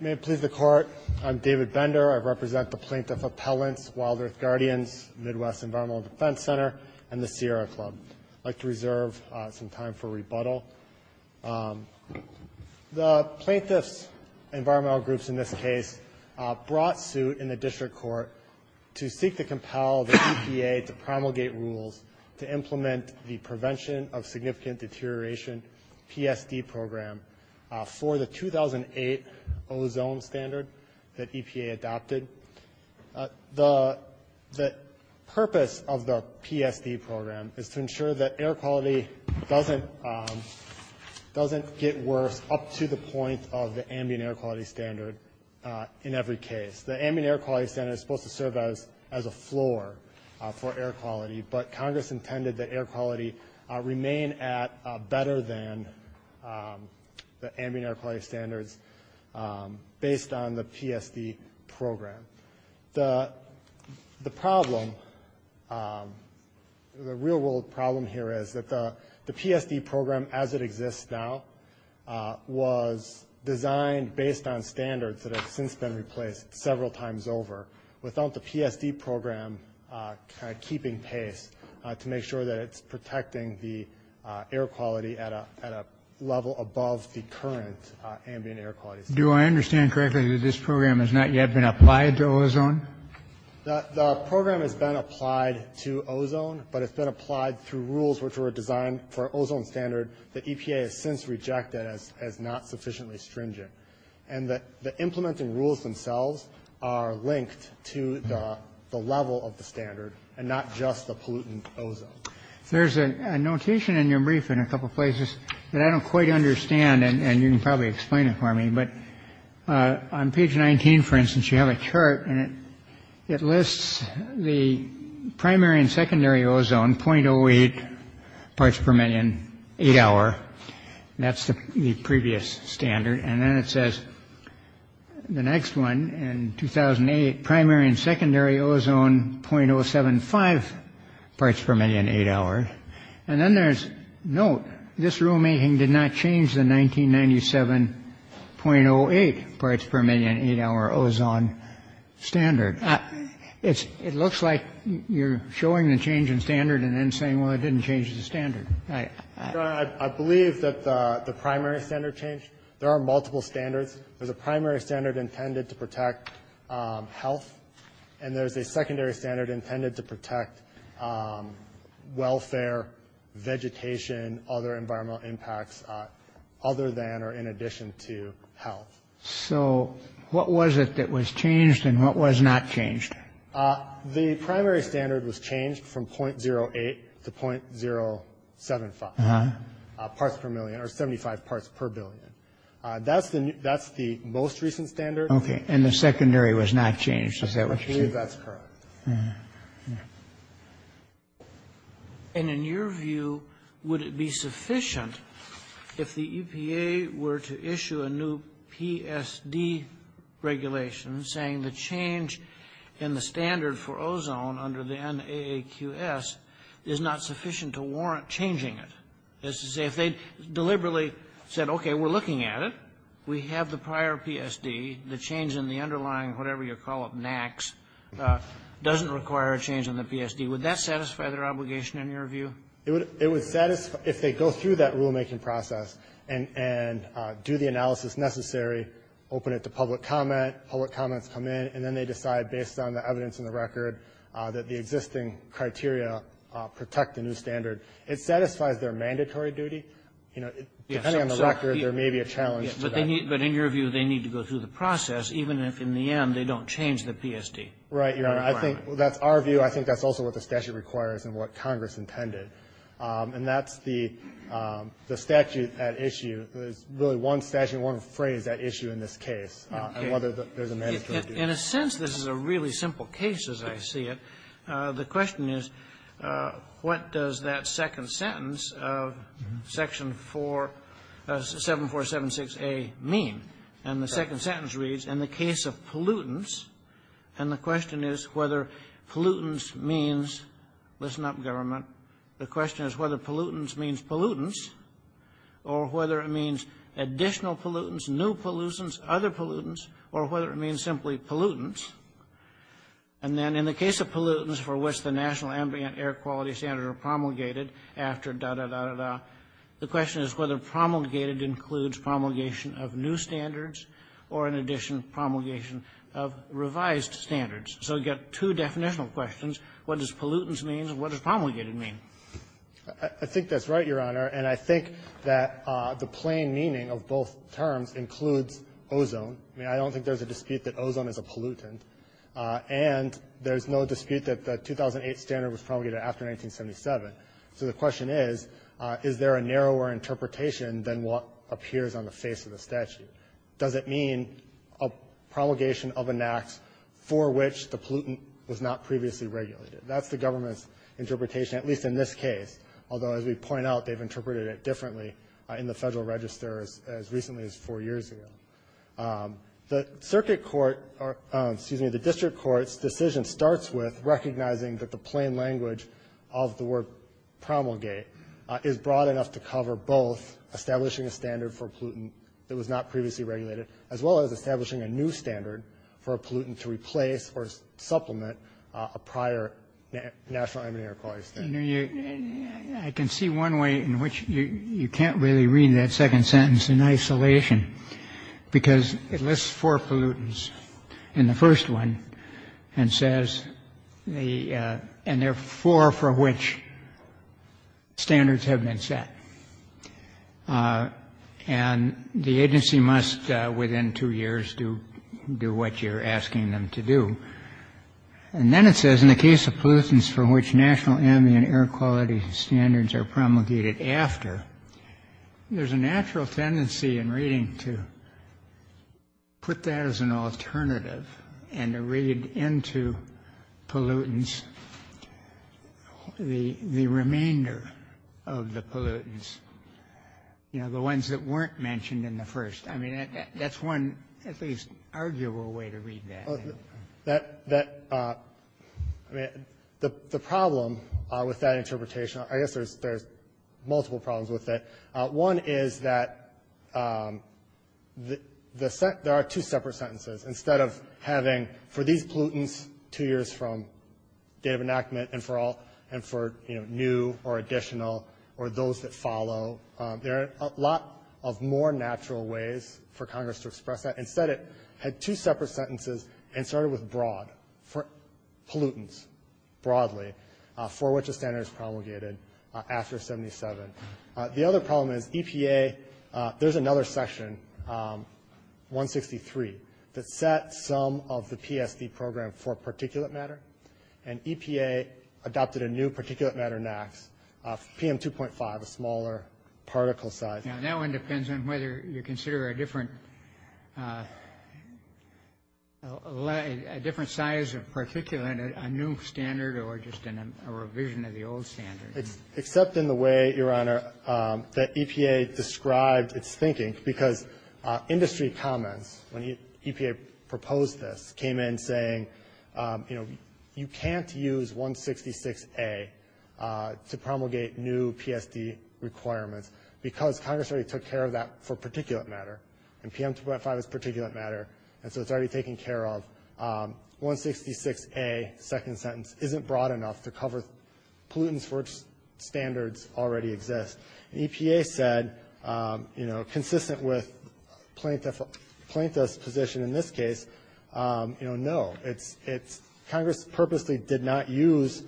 May it please the Court, I'm David Bender. I represent the Plaintiff Appellants, WildEarth Guardians, Midwest Environmental Defense Center, and the Sierra Club. I'd like to reserve some time for rebuttal. The Plaintiffs Environmental Groups, in this case, brought suit in the District Court to seek to compel the EPA to promulgate rules to implement the Prevention of Significant Deterioration, PSD, program for the 2008 ozone standard that EPA adopted. The purpose of the PSD program is to ensure that air quality doesn't get worse up to the point of the ambient air quality standard in every case. The ambient air quality standard is supposed to serve as a floor for air quality, but Congress intended that air quality remain at better than the ambient air quality standards based on the PSD program. The problem, the real world problem here is that the PSD program as it exists now was designed based on standards that have since been replaced several times over, without the PSD program keeping pace to make sure that it's protecting the air quality at a level above the current ambient air quality standard. Do I understand correctly that this program has not yet been applied to ozone? The program has been applied to ozone, but it's been applied through rules which were designed for ozone standard that EPA has since rejected as not sufficiently stringent. And the implementing rules themselves are linked to the level of the standard and not just the pollutant ozone. There's a notation in your brief in a couple of places that I don't quite understand. And you can probably explain it for me. But on page 19, for instance, you have a chart and it lists the primary and secondary ozone point oh eight parts per million, eight hour. That's the previous standard. And then it says the next one in 2008, primary and secondary ozone point oh seven five parts per million, eight hour. And then there's note. This rulemaking did not change the 1997 point oh eight parts per million, eight hour ozone standard. It's it looks like you're showing the change in standard and then saying, well, it didn't change the standard. I believe that the primary standard change. There are multiple standards. There's a primary standard intended to protect health. And there's a secondary standard intended to protect welfare, vegetation, other environmental impacts other than or in addition to health. So what was it that was changed and what was not changed? The primary standard was changed from point zero eight to point zero seven five parts per million or seventy five parts per billion. That's the that's the most recent standard. OK. And the secondary was not changed. That's correct. And in your view, would it be sufficient if the EPA were to issue a new P.S.D. regulation saying the change in the standard for ozone under the N.A.Q.S. is not sufficient to warrant changing it. This is if they deliberately said, OK, we're looking at it. We have the prior P.S.D. The change in the underlying whatever you call it, N.A.Q.S., doesn't require a change in the P.S.D. Would that satisfy their obligation in your view? It would it would satisfy if they go through that rulemaking process and do the analysis necessary, open it to public comment. Public comments come in and then they decide based on the evidence in the record that the existing criteria protect the new standard. It satisfies their mandatory duty. You know, depending on the record, there may be a challenge. But they need. But in your view, they need to go through the process, even if in the end they don't change the P.S.D. Right. I think that's our view. I think that's also what the statute requires and what Congress intended. And that's the statute at issue. There's really one statute, one phrase that issue in this case and whether there's a mandatory duty. In a sense, this is a really simple case as I see it. The question is, what does that second sentence of Section 7476A mean? And the second sentence reads, in the case of pollutants, and the question is whether pollutants means, listen up, government, the question is whether pollutants means pollutants or whether it means additional pollutants, new pollutants, other pollutants, or whether it means simply pollutants. And then in the case of pollutants for which the National Ambient Air Quality Standards are promulgated after da, da, da, da, the question is whether promulgated includes promulgation of new standards or, in addition, promulgation of revised standards. So you've got two definitional questions. What does pollutants mean and what does promulgated mean? I think that's right, Your Honor. And I think that the plain meaning of both terms includes ozone. I mean, I don't think there's a dispute that ozone is a pollutant, and there's no dispute that the 2008 standard was promulgated after 1977. So the question is, is there a narrower interpretation than what appears on the face of the statute? Does it mean a promulgation of an act for which the pollutant was not previously regulated? That's the government's interpretation, at least in this case, although, as we point out, they've interpreted it differently in the Federal Register as recently as four years ago. The Circuit Court or, excuse me, the District Court's decision starts with recognizing that the plain language of the word promulgate is broad enough to cover both establishing a standard for a pollutant that was not previously regulated as well as establishing a new standard for a pollutant to replace or supplement a prior National Ambient Air Quality Standard. I can see one way in which you can't really read that second sentence in isolation, because it lists four pollutants in the first one and says the and there are four for which standards have been set. And the agency must, within two years, do do what you're asking them to do. And then it says in the case of pollutants for which National Ambient Air Quality Standards are promulgated after, there's a natural tendency in reading to put that as an alternative and to read into pollutants the remainder of the pollutants, you know, the ones that weren't mentioned in the first. I mean, that's one at least arguable way to read that. That, I mean, the problem with that interpretation, I guess there's multiple problems with it. One is that there are two separate sentences. Instead of having for these pollutants two years from date of enactment and for new or additional or those that follow, there are a lot of more natural ways for Congress to express that. Instead it had two separate sentences and started with broad, pollutants broadly, for which a standard is promulgated after 77. The other problem is EPA, there's another section, 163, that set some of the PSD program for particulate matter. And EPA adopted a new particulate matter NAAQS, PM 2.5, a smaller particle size. Now, that one depends on whether you consider a different size of particulate, a new standard or just a revision of the old standard. Except in the way, Your Honor, that EPA described its thinking, because industry comments, when EPA proposed this, came in saying, you know, you can't use 166A to promulgate new PSD requirements because Congress already took care of that for particulate matter. And PM 2.5 is particulate matter. And so it's already taken care of. 166A, second sentence, isn't broad enough to cover pollutants for which standards already exist. And EPA said, you know, consistent with plaintiff's position in this case, you know, no. Congress purposely did not use,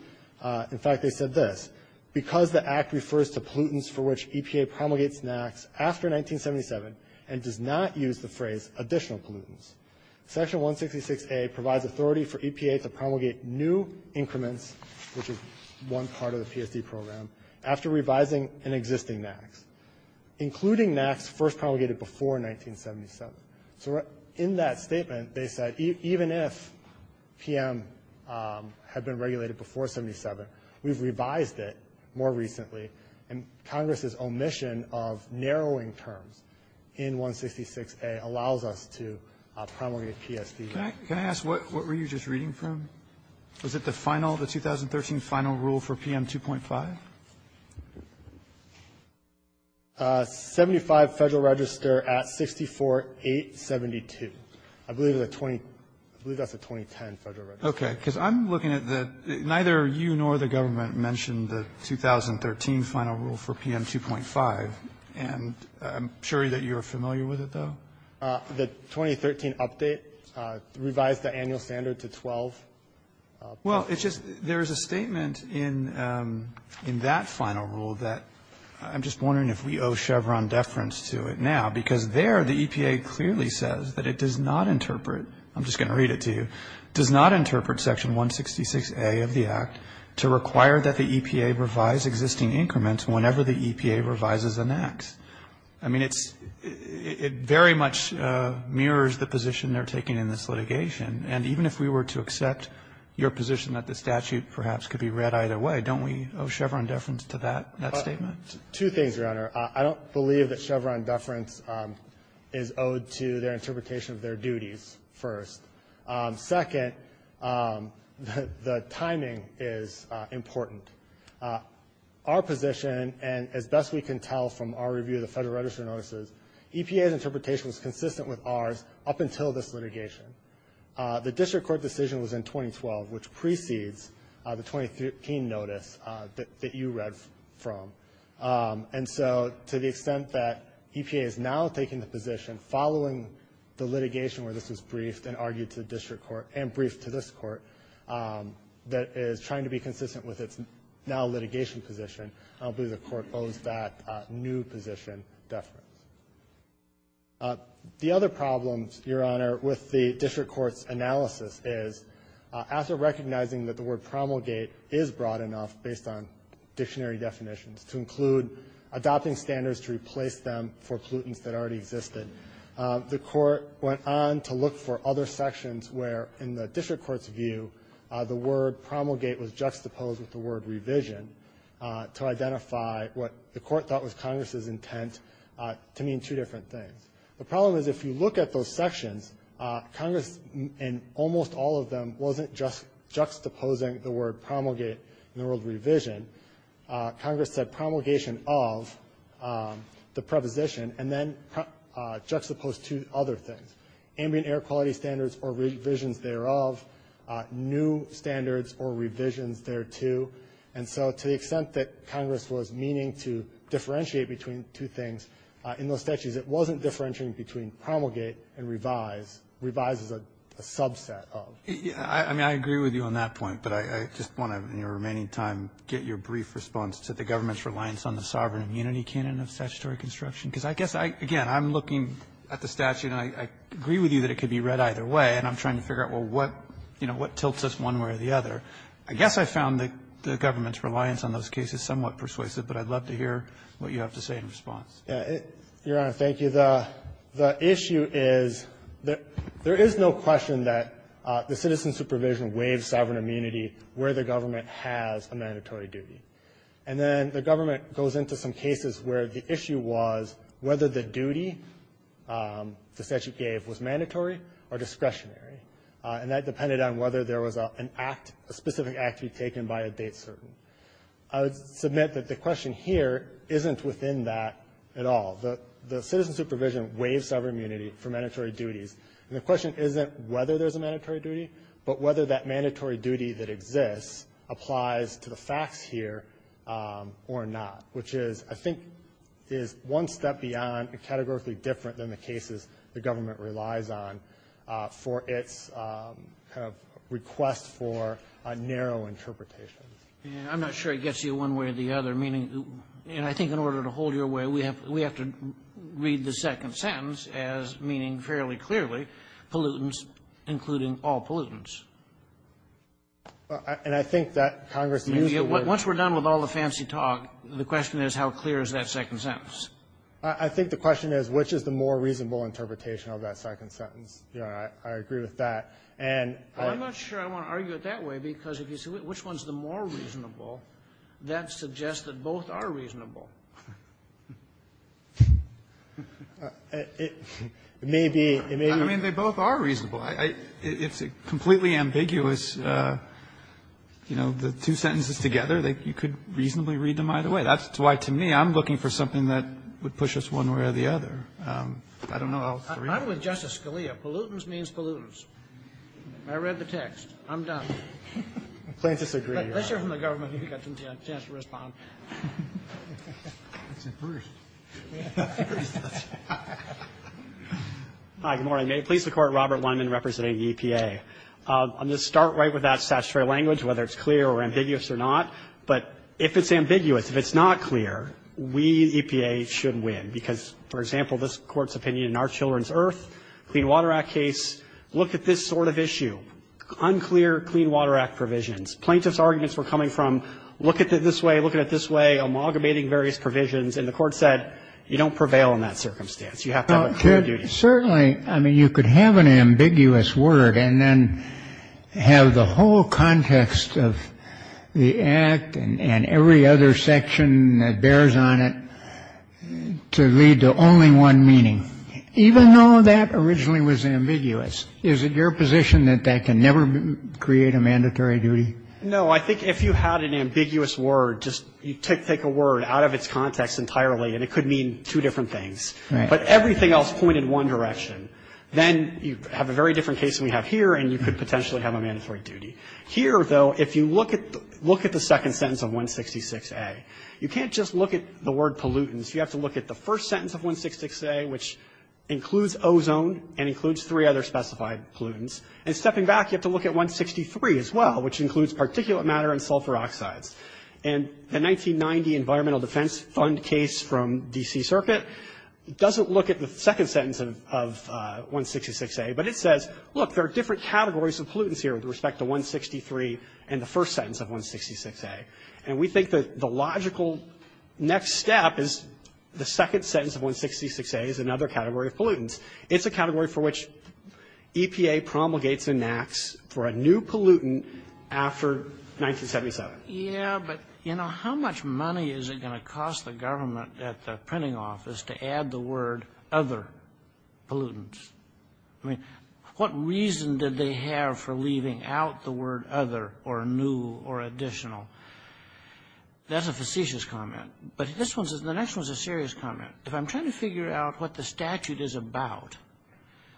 in fact, they said this. Because the act refers to pollutants for which EPA promulgates NAAQS after 1977 and does not use the phrase additional pollutants, section 166A provides authority for EPA to promulgate new increments, which is one part of the PSD program, after revising an existing NAAQS, including NAAQS first promulgated before 1977. So in that statement, they said, even if PM had been regulated before 77, we've revised it more recently. And Congress's omission of narrowing terms in 166A allows us to promulgate PSD. Can I ask, what were you just reading from? Was it the final, the 2013 final rule for PM 2.5? 75 Federal Register at 64, 872. I believe that's a 2010 Federal Register. Okay. Because I'm looking at the ñ neither you nor the government mentioned the 2013 final rule for PM 2.5. And I'm sure that you're familiar with it, though. The 2013 update revised the annual standard to 12. Well, it's just, there's a statement in that final rule that I'm just wondering if we owe Chevron deference to it now. Because there the EPA clearly says that it does not interpret, I'm just going to read it to you, does not interpret section 166A of the Act to require that the EPA revise existing increments whenever the EPA revises a NAAQS. I mean, it's, it very much mirrors the position they're taking in this litigation. And even if we were to accept your position that the statute perhaps could be read either way, don't we owe Chevron deference to that, that statement? Two things, Your Honor. I don't believe that Chevron deference is owed to their interpretation of their duties first. Second, the timing is important. Our position, and as best we can tell from our review of the Federal Register notices, EPA's interpretation was consistent with ours up until this litigation. The district court decision was in 2012, which precedes the 2013 notice that you read from. And so to the extent that EPA is now taking the position following the litigation where this was briefed and argued to the district court and briefed to this court that is trying to be consistent with its now litigation position, I don't believe the court owes that new position deference. The other problems, Your Honor, with the district court's analysis is after recognizing that the word promulgate is broad enough based on dictionary definitions to include adopting standards to replace them for pollutants that already existed, the court went on to look for other sections where in the district court's view the word promulgate was juxtaposed with the word revision to identify what the court thought was Congress's intent to mean two different things. The problem is if you look at those sections, Congress, in almost all of them, wasn't juxtaposing the word promulgate and the word revision. Congress said promulgation of the preposition and then juxtaposed two other things, ambient air quality standards or revisions thereof, new standards or revisions thereto. And so to the extent that Congress was meaning to differentiate between two things in those statutes, it wasn't differentiating between promulgate and revise. Revise is a subset of. I mean, I agree with you on that point, but I just want to, in your remaining time, get your brief response to the government's reliance on the sovereign immunity canon of statutory construction. Because I guess, again, I'm looking at the statute, and I agree with you that it could be read either way, and I'm trying to figure out, well, what, you know, what tilts us one way or the other. I guess I found the government's reliance on those cases somewhat persuasive, but I'd love to hear what you have to say in response. Yeah. Your Honor, thank you. The issue is there is no question that the citizen supervision waived sovereign immunity where the government has a mandatory duty. And then the government goes into some cases where the issue was whether the duty the statute gave was mandatory or discretionary, and that depended on whether there was an act, a specific act to be taken by a date certain. I would submit that the question here isn't within that at all. The citizen supervision waived sovereign immunity for mandatory duties, and the question isn't whether there's a mandatory duty, but whether that mandatory duty that exists applies to the facts here or not, which is, I think, is one step beyond and categorically different than the cases the government relies on for its kind of request for a narrow interpretation. I'm not sure it gets you one way or the other, meaning, and I think in order to hold you away, we have to read the second sentence as meaning fairly clearly pollutants, including all pollutants. And I think that Congress used the word. Once we're done with all the fancy talk, the question is how clear is that second sentence? I think the question is which is the more reasonable interpretation of that second sentence. I agree with that. And I'm not sure I want to argue it that way, because if you say which one is the more reasonable, that suggests that both are reasonable. It may be. I mean, they both are reasonable. It's completely ambiguous. You know, the two sentences together, you could reasonably read them either way. That's why, to me, I'm looking for something that would push us one way or the other. I don't know how else to read it. I'm with Justice Scalia. Pollutants means pollutants. I read the text. I'm done. Let's hear from the government. You've got a chance to respond. That's a first. Hi, good morning. May it please the Court, Robert Weinman representing EPA. I'm going to start right with that statutory language, whether it's clear or ambiguous or not. But if it's ambiguous, if it's not clear, we, EPA, should win, because, for example, this Court's opinion in Our Children's Earth, Clean Water Act case, look at this sort of issue. Unclear Clean Water Act provisions. Plaintiff's arguments were coming from look at it this way, look at it this way, amalgamating various provisions. And the Court said you don't prevail in that circumstance. You have to have a clear duty. Certainly. I mean, you could have an ambiguous word and then have the whole context of the Act and every other section that bears on it to lead to only one meaning, even though that originally was ambiguous. Is it your position that that can never create a mandatory duty? No. I think if you had an ambiguous word, just you take a word out of its context entirely, and it could mean two different things. Right. But everything else pointed one direction. Then you have a very different case than we have here, and you could potentially have a mandatory duty. Here, though, if you look at the second sentence of 166A, you can't just look at the word pollutants. You have to look at the first sentence of 166A, which includes ozone and includes three other specified pollutants. And stepping back, you have to look at 163 as well, which includes particulate matter and sulfur oxides. And the 1990 Environmental Defense Fund case from D.C. Circuit doesn't look at the second sentence of 166A, but it says, look, there are different categories of pollutants here with respect to 163 and the first sentence of 166A. And we think that the logical next step is the second sentence of 166A is another category of pollutants. It's a category for which EPA promulgates and enacts for a new pollutant after 1977. Kennedy. But, yeah, but, you know, how much money is it going to cost the government at the printing office to add the word other pollutants? I mean, what reason did they have for leaving out the word other or new or additional? That's a facetious comment. But this one's the next one's a serious comment. If I'm trying to figure out what the statute is about,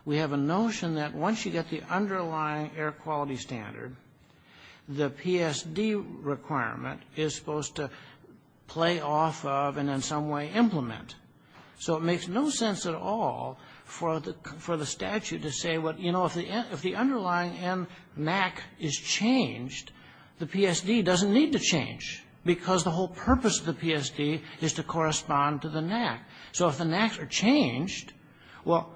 we have a notion that once you get the underlying air quality standard, the PSD requirement is supposed to play off of and in some way implement. So it makes no sense at all for the statute to say, you know, if the underlying NAC is changed, the PSD doesn't need to change, because the whole purpose of the PSD is to correspond to the NAC. So if the NACs are changed, well,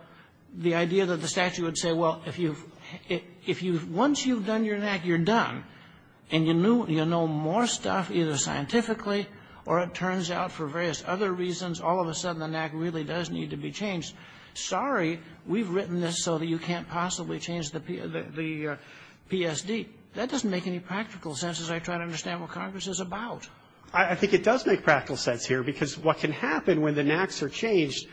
the idea that the statute would say, well, if you once you've done your NAC, you're done, and you know more stuff, either scientifically or it turns out for various other reasons, all of a sudden the NAC really does need to be changed. Sorry, we've written this so that you can't possibly change the PSD. That doesn't make any practical sense as I try to understand what Congress is about. I think it does make practical sense here, because what can happen when the NACs are changed,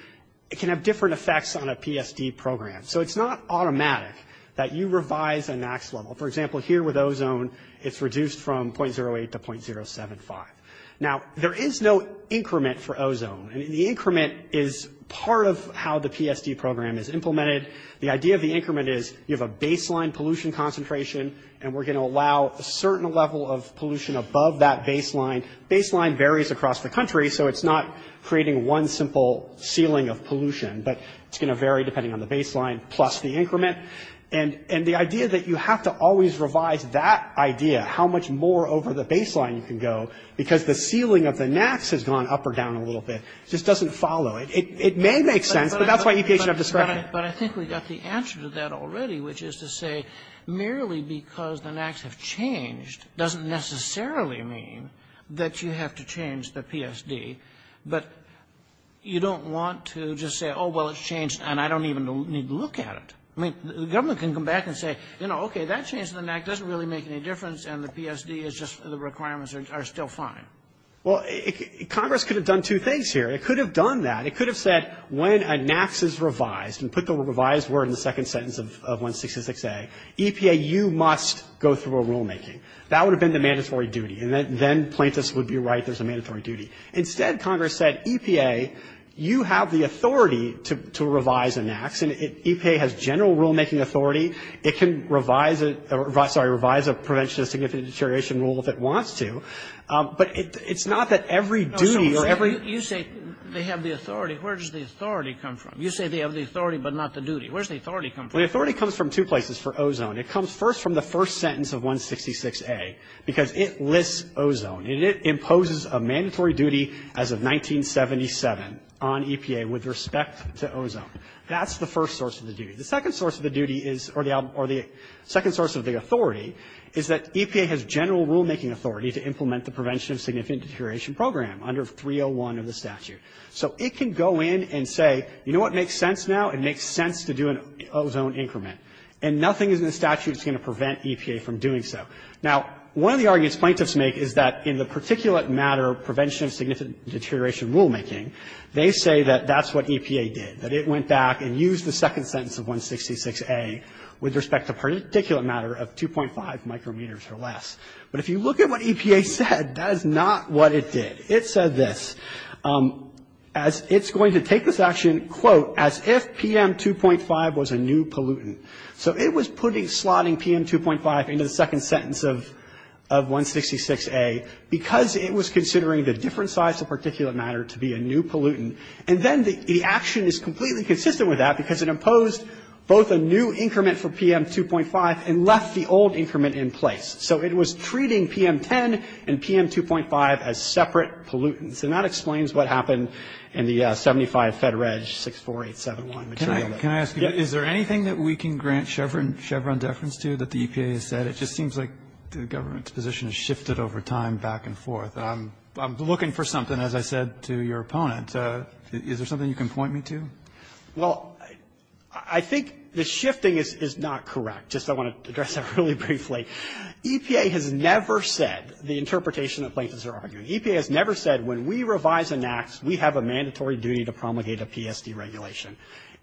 it can have different effects on a PSD program. So it's not automatic that you revise a NAC's level. For example, here with ozone, it's reduced from .08 to .075. Now, there is no increment for ozone, and the increment is part of how the PSD program is implemented. The idea of the increment is you have a baseline pollution concentration, and we're across the country, so it's not creating one simple ceiling of pollution, but it's going to vary depending on the baseline plus the increment. And the idea that you have to always revise that idea, how much more over the baseline you can go, because the ceiling of the NACs has gone up or down a little bit, just doesn't follow. It may make sense, but that's why EPA should have discretion. But I think we got the answer to that already, which is to say merely because the you have to change the PSD, but you don't want to just say, oh, well, it's changed, and I don't even need to look at it. I mean, the government can come back and say, you know, okay, that change in the NAC doesn't really make any difference, and the PSD is just the requirements are still fine. Well, Congress could have done two things here. It could have done that. It could have said, when a NAC is revised, and put the revised word in the second sentence of 166A, EPA, you must go through a rulemaking. That would have been the mandatory duty, and then Plaintiffs would be right, there's a mandatory duty. Instead, Congress said, EPA, you have the authority to revise a NAC, and EPA has general rulemaking authority. It can revise a prevention of significant deterioration rule if it wants to. But it's not that every duty or every ---- Kagan. You say they have the authority. Where does the authority come from? You say they have the authority, but not the duty. Where does the authority come from? The authority comes from two places for ozone. It comes first from the first sentence of 166A, because it lists ozone, and it imposes a mandatory duty as of 1977 on EPA with respect to ozone. That's the first source of the duty. The second source of the duty is or the second source of the authority is that EPA has general rulemaking authority to implement the prevention of significant deterioration program under 301 of the statute. So it can go in and say, you know what makes sense now? It makes sense to do an ozone increment. And nothing is in the statute that's going to prevent EPA from doing so. Now, one of the arguments plaintiffs make is that in the particulate matter prevention of significant deterioration rulemaking, they say that that's what EPA did, that it went back and used the second sentence of 166A with respect to particulate matter of 2.5 micrometers or less. But if you look at what EPA said, that is not what it did. It said this. It's going to take this action, quote, as if PM 2.5 was a new pollutant. So it was putting, slotting PM 2.5 into the second sentence of 166A because it was considering the different size of particulate matter to be a new pollutant. And then the action is completely consistent with that because it imposed both a new increment for PM 2.5 and left the old increment in place. So it was treating PM 10 and PM 2.5 as separate pollutants. And that explains what happened in the 75 FEDREG 64871. Kennedy, can I ask you? Is there anything that we can grant Chevron deference to that the EPA has said? It just seems like the government's position has shifted over time back and forth. I'm looking for something, as I said to your opponent. Is there something you can point me to? Well, I think the shifting is not correct. Just I want to address that really briefly. EPA has never said the interpretation that plaintiffs are arguing.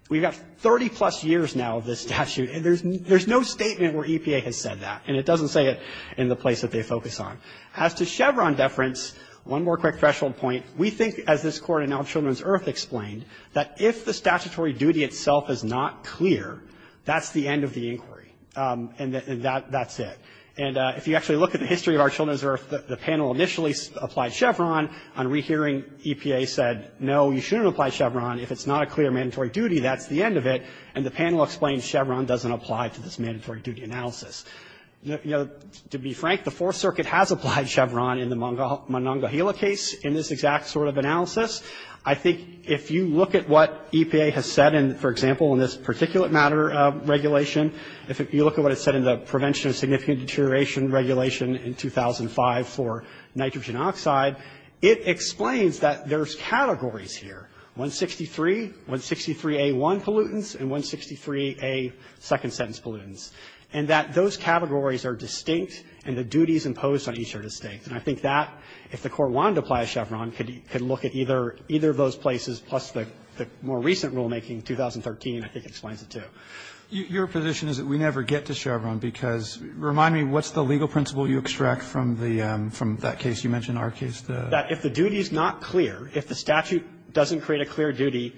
We've got 30-plus years now of this statute. And there's no statement where EPA has said that. And it doesn't say it in the place that they focus on. As to Chevron deference, one more quick threshold point. We think, as this Court in All Children's Earth explained, that if the statutory duty itself is not clear, that's the end of the inquiry. And that's it. And if you actually look at the history of All Children's Earth, the panel initially on rehearing EPA said, no, you shouldn't apply Chevron. If it's not a clear mandatory duty, that's the end of it. And the panel explains Chevron doesn't apply to this mandatory duty analysis. You know, to be frank, the Fourth Circuit has applied Chevron in the Monongahela case in this exact sort of analysis. I think if you look at what EPA has said, for example, in this particulate matter regulation, if you look at what it said in the prevention of significant deterioration regulation in 2005 for nitrogen oxide, it explains that there's categories here. 163, 163A1 pollutants, and 163A2 pollutants. And that those categories are distinct, and the duties imposed on each are distinct. And I think that, if the Court wanted to apply Chevron, could look at either of those places, plus the more recent rulemaking, 2013, I think explains it too. Roberts, your position is that we never get to Chevron, because, remind me, what's the legal principle you extract from the, from that case you mentioned, our case? That if the duty is not clear, if the statute doesn't create a clear duty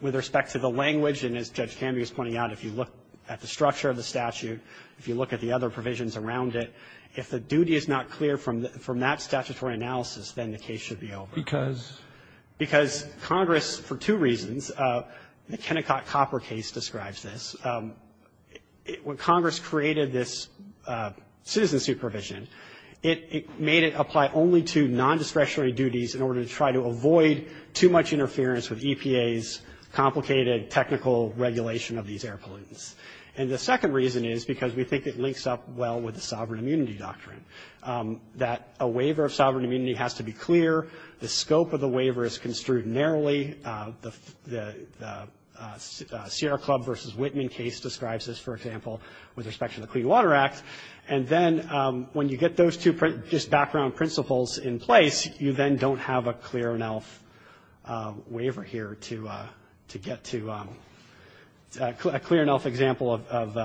with respect to the language, and as Judge Kamey was pointing out, if you look at the structure of the statute, if you look at the other provisions around it, if the duty is not clear from that statutory analysis, then the case should be over. Because? Because Congress, for two reasons, the Kennecott-Copper case describes this. When Congress created this citizen supervision, it made it apply only to nondiscretionary duties in order to try to avoid too much interference with EPA's complicated technical regulation of these air pollutants. And the second reason is because we think it links up well with the sovereign immunity doctrine, that a waiver of sovereign immunity has to be clear. The scope of the waiver is construed narrowly. The Sierra Club v. Whitman case describes this, for example, with respect to the Clean Water Act. And then when you get those two just background principles in place, you then don't have a clear enough waiver here to get to a clear enough example of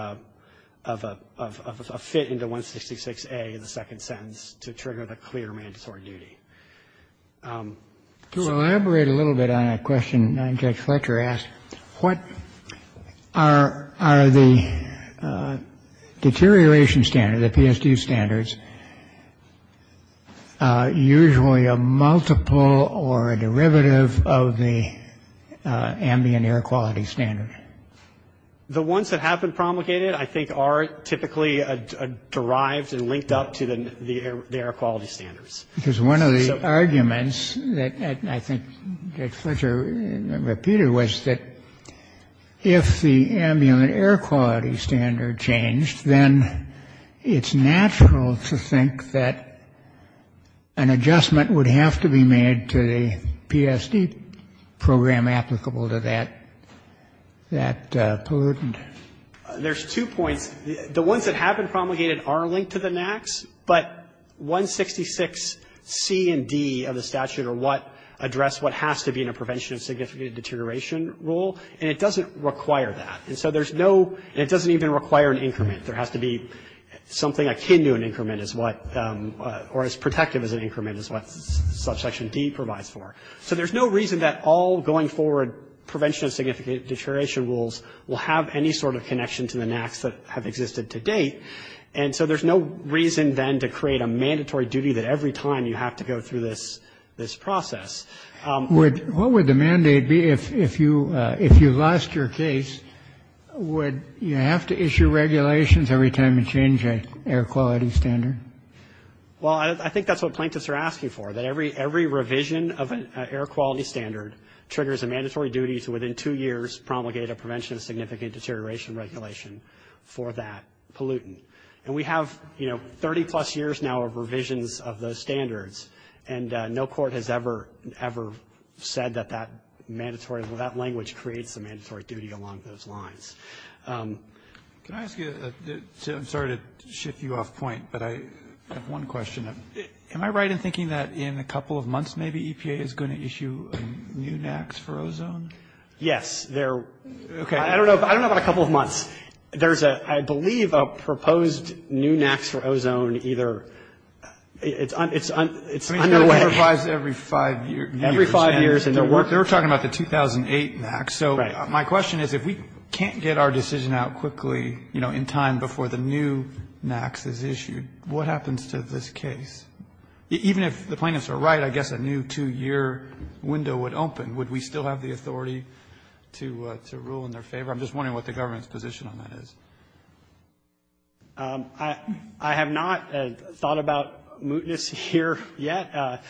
a fit into 166A, the second sentence, to trigger the clear mandatory duty. To elaborate a little bit on a question Judge Fletcher asked, what are the deterioration standards, the PSD standards, usually a multiple or a derivative of the ambient air quality standard? The ones that have been promulgated, I think, are typically derived and linked up to the air quality standards. Because one of the arguments that I think Judge Fletcher repeated was that if the ambient air quality standard changed, then it's natural to think that an adjustment would have to be made to the PSD program applicable to that, that pollutant. There's two points. The ones that have been promulgated are linked to the NACs, but 166C and D of the statute are what address what has to be in a prevention of significant deterioration rule, and it doesn't require that. And so there's no, and it doesn't even require an increment. There has to be something akin to an increment as what, or as protective as an increment as what subsection D provides for. So there's no reason that all going forward prevention of significant deterioration rules will have any sort of connection to the NACs that have existed to date, and so there's no reason then to create a mandatory duty that every time you have to go through this process. What would the mandate be if you lost your case? Would you have to issue regulations every time you change an air quality standard? Well, I think that's what plaintiffs are asking for, that every revision of an air quality standard triggers a mandatory duty to within two years promulgate a prevention of significant deterioration regulation for that pollutant. And we have, you know, 30-plus years now of revisions of those standards, and no one has ever said that that mandatory, that language creates a mandatory duty along those lines. Can I ask you, I'm sorry to shift you off point, but I have one question. Am I right in thinking that in a couple of months maybe EPA is going to issue new NACs for ozone? Yes. I don't know about a couple of months. There's, I believe, a proposed new NACs for ozone either, it's underway. It's underwrites every five years. Every five years, and they're working. They're talking about the 2008 NACs. So my question is, if we can't get our decision out quickly, you know, in time before the new NACs is issued, what happens to this case? Even if the plaintiffs are right, I guess a new two-year window would open. Would we still have the authority to rule in their favor? I'm just wondering what the government's position on that is. I have not thought about mootness here yet.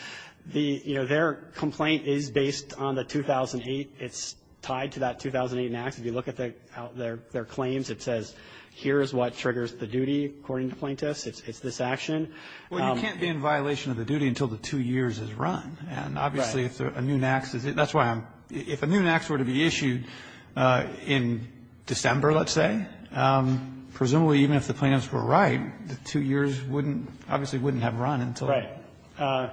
The, you know, their complaint is based on the 2008. It's tied to that 2008 NACs. If you look at their claims, it says, here's what triggers the duty, according to plaintiffs. It's this action. Well, you can't be in violation of the duty until the two years is run. Right. And obviously if a new NACs, that's why I'm, if a new NACs were to be issued in December, let's say, presumably even if the plaintiffs were right, the two years wouldn't, obviously wouldn't have run until. Right.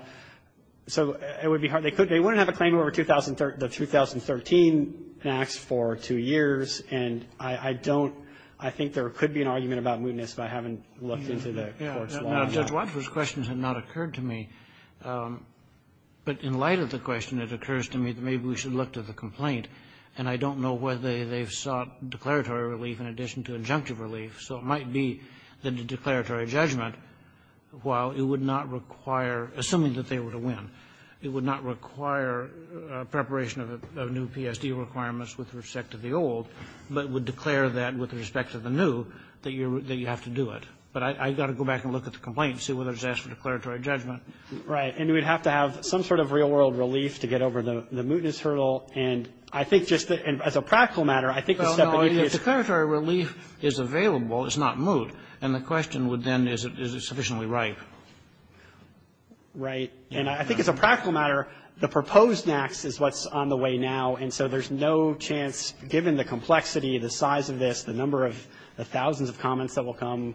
So it would be hard. They wouldn't have a claim over the 2013 NACs for two years. And I don't, I think there could be an argument about mootness, but I haven't looked into the court's law. Judge Watford's questions have not occurred to me. But in light of the question, it occurs to me that maybe we should look to the complaint. And I don't know whether they've sought declaratory relief in addition to injunctive relief. So it might be that the declaratory judgment, while it would not require, assuming that they were to win, it would not require preparation of a new PSD requirements with respect to the old, but would declare that with respect to the new, that you have to do it. But I've got to go back and look at the complaint and see whether it's asked for declaratory judgment. Right. And we'd have to have some sort of real world relief to get over the mootness problem. And I think just as a practical matter, I think the step beneath it is the question would then, is it sufficiently ripe? Right. And I think as a practical matter, the proposed NACs is what's on the way now. And so there's no chance, given the complexity, the size of this, the number of thousands of comments that will come,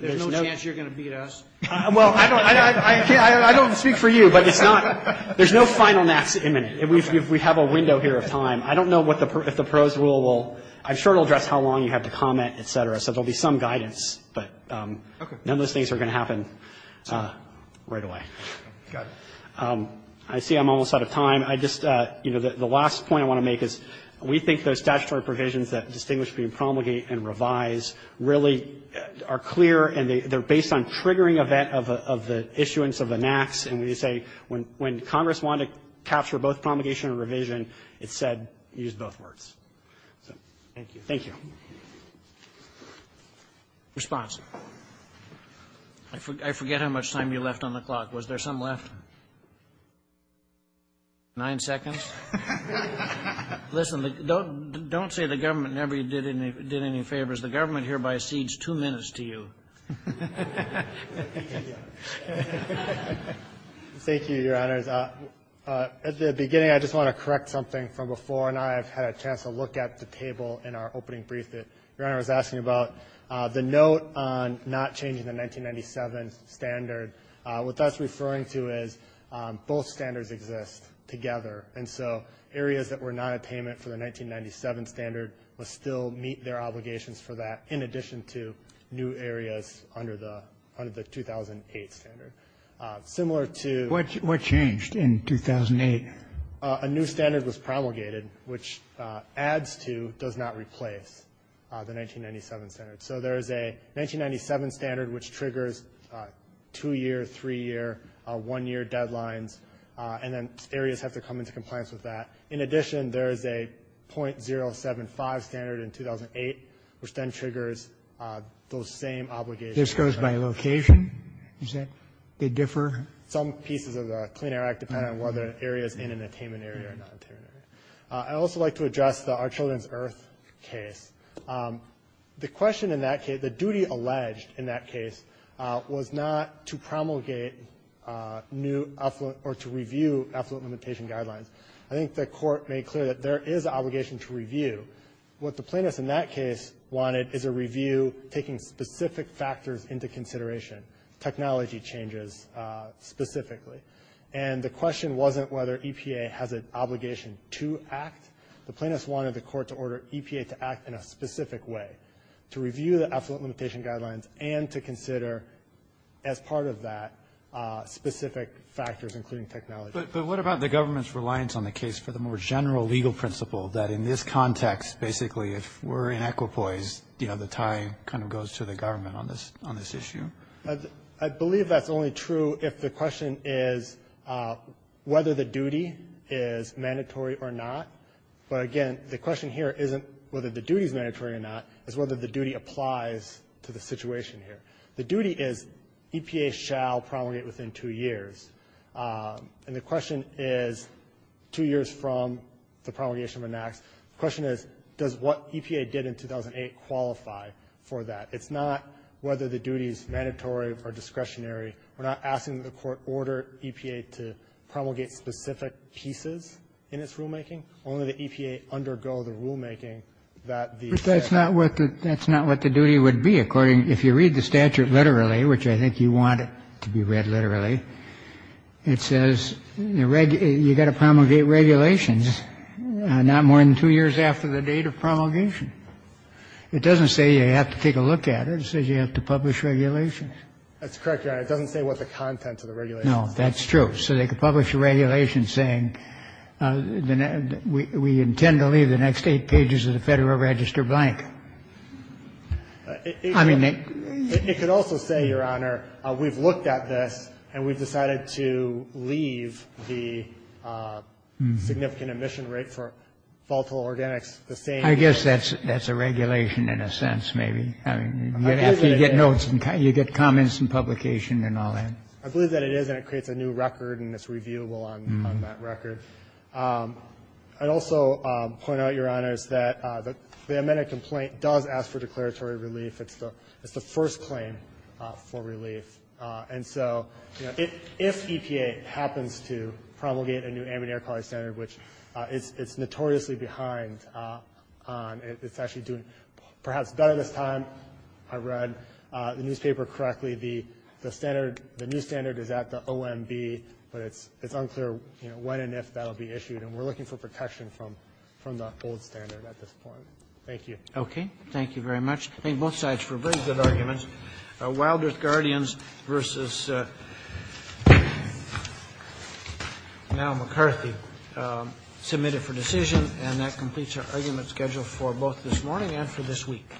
there's no chance you're going to beat us. Well, I don't speak for you, but it's not, there's no final NACs imminent. We have a window here of time. I don't know if the pros rule will, I'm sure it will address how long you have to comment, et cetera. So there will be some guidance, but none of those things are going to happen right away. Got it. I see I'm almost out of time. I just, you know, the last point I want to make is we think those statutory provisions that distinguish between promulgate and revise really are clear and they're based on triggering event of the issuance of the NACs. And we say when Congress wanted to capture both promulgation and revision, it said use both words. Thank you. Thank you. Response? I forget how much time you left on the clock. Was there some left? Nine seconds? Listen, don't say the government never did any favors. The government hereby cedes two minutes to you. Thank you, Your Honors. At the beginning, I just want to correct something from before, and I've had a chance to look at the table in our opening brief that Your Honor was asking about. The note on not changing the 1997 standard, what that's referring to is both standards exist together. And so areas that were not a payment for the 1997 standard will still meet their areas under the 2008 standard. Similar to the 1997 standard. What changed in 2008? A new standard was promulgated, which adds to, does not replace, the 1997 standard. So there is a 1997 standard which triggers two-year, three-year, one-year deadlines, and then areas have to come into compliance with that. In addition, there is a .075 standard in 2008, which then triggers those same obligations. This goes by location, you said? They differ? Some pieces of the Clean Air Act depend on whether an area is in an attainment area or not. I'd also like to address the Our Children's Earth case. The question in that case, the duty alleged in that case, was not to promulgate new, or to review effluent limitation guidelines. I think the Court made clear that there is an obligation to review. What the plaintiffs in that case wanted is a review taking specific factors into consideration, technology changes specifically. And the question wasn't whether EPA has an obligation to act. The plaintiffs wanted the Court to order EPA to act in a specific way, to review the effluent limitation guidelines and to consider, as part of that, specific factors, including technology. But what about the government's reliance on the case for the more general legal principle, that in this context, basically, if we're in equipoise, you know, the tie kind of goes to the government on this issue? I believe that's only true if the question is whether the duty is mandatory or not. But, again, the question here isn't whether the duty is mandatory or not. It's whether the duty applies to the situation here. The duty is EPA shall promulgate within two years. And the question is, two years from the promulgation of an act, the question is, does what EPA did in 2008 qualify for that? It's not whether the duty is mandatory or discretionary. We're not asking that the Court order EPA to promulgate specific pieces in its rulemaking. Only that EPA undergo the rulemaking that the State has. Kennedy. But that's not what the duty would be. According to the statute, literally, which I think you want it to be read literally, it says you've got to promulgate regulations not more than two years after the date of promulgation. It doesn't say you have to take a look at it. It says you have to publish regulations. That's correct, Your Honor. It doesn't say what the content of the regulations is. No, that's true. So they could publish a regulation saying we intend to leave the next eight pages of the Federal Register blank. But we've decided to leave the significant emission rate for volatile organics the same. I guess that's a regulation in a sense, maybe. I mean, after you get notes and you get comments and publication and all that. I believe that it is, and it creates a new record, and it's reviewable on that record. I'd also point out, Your Honor, is that the amended complaint does ask for declaratory relief. It's the first claim for relief. And so, you know, if EPA happens to promulgate a new ambient air quality standard, which it's notoriously behind on. It's actually doing perhaps better this time. I read the newspaper correctly. The standard, the new standard is at the OMB, but it's unclear, you know, when and if that will be issued. And we're looking for protection from the old standard at this point. Thank you. Thank you very much. Thank you both sides for a very good argument. Wild Earth Guardians versus Mal McCarthy submitted for decision. And that completes our argument schedule for both this morning and for this week.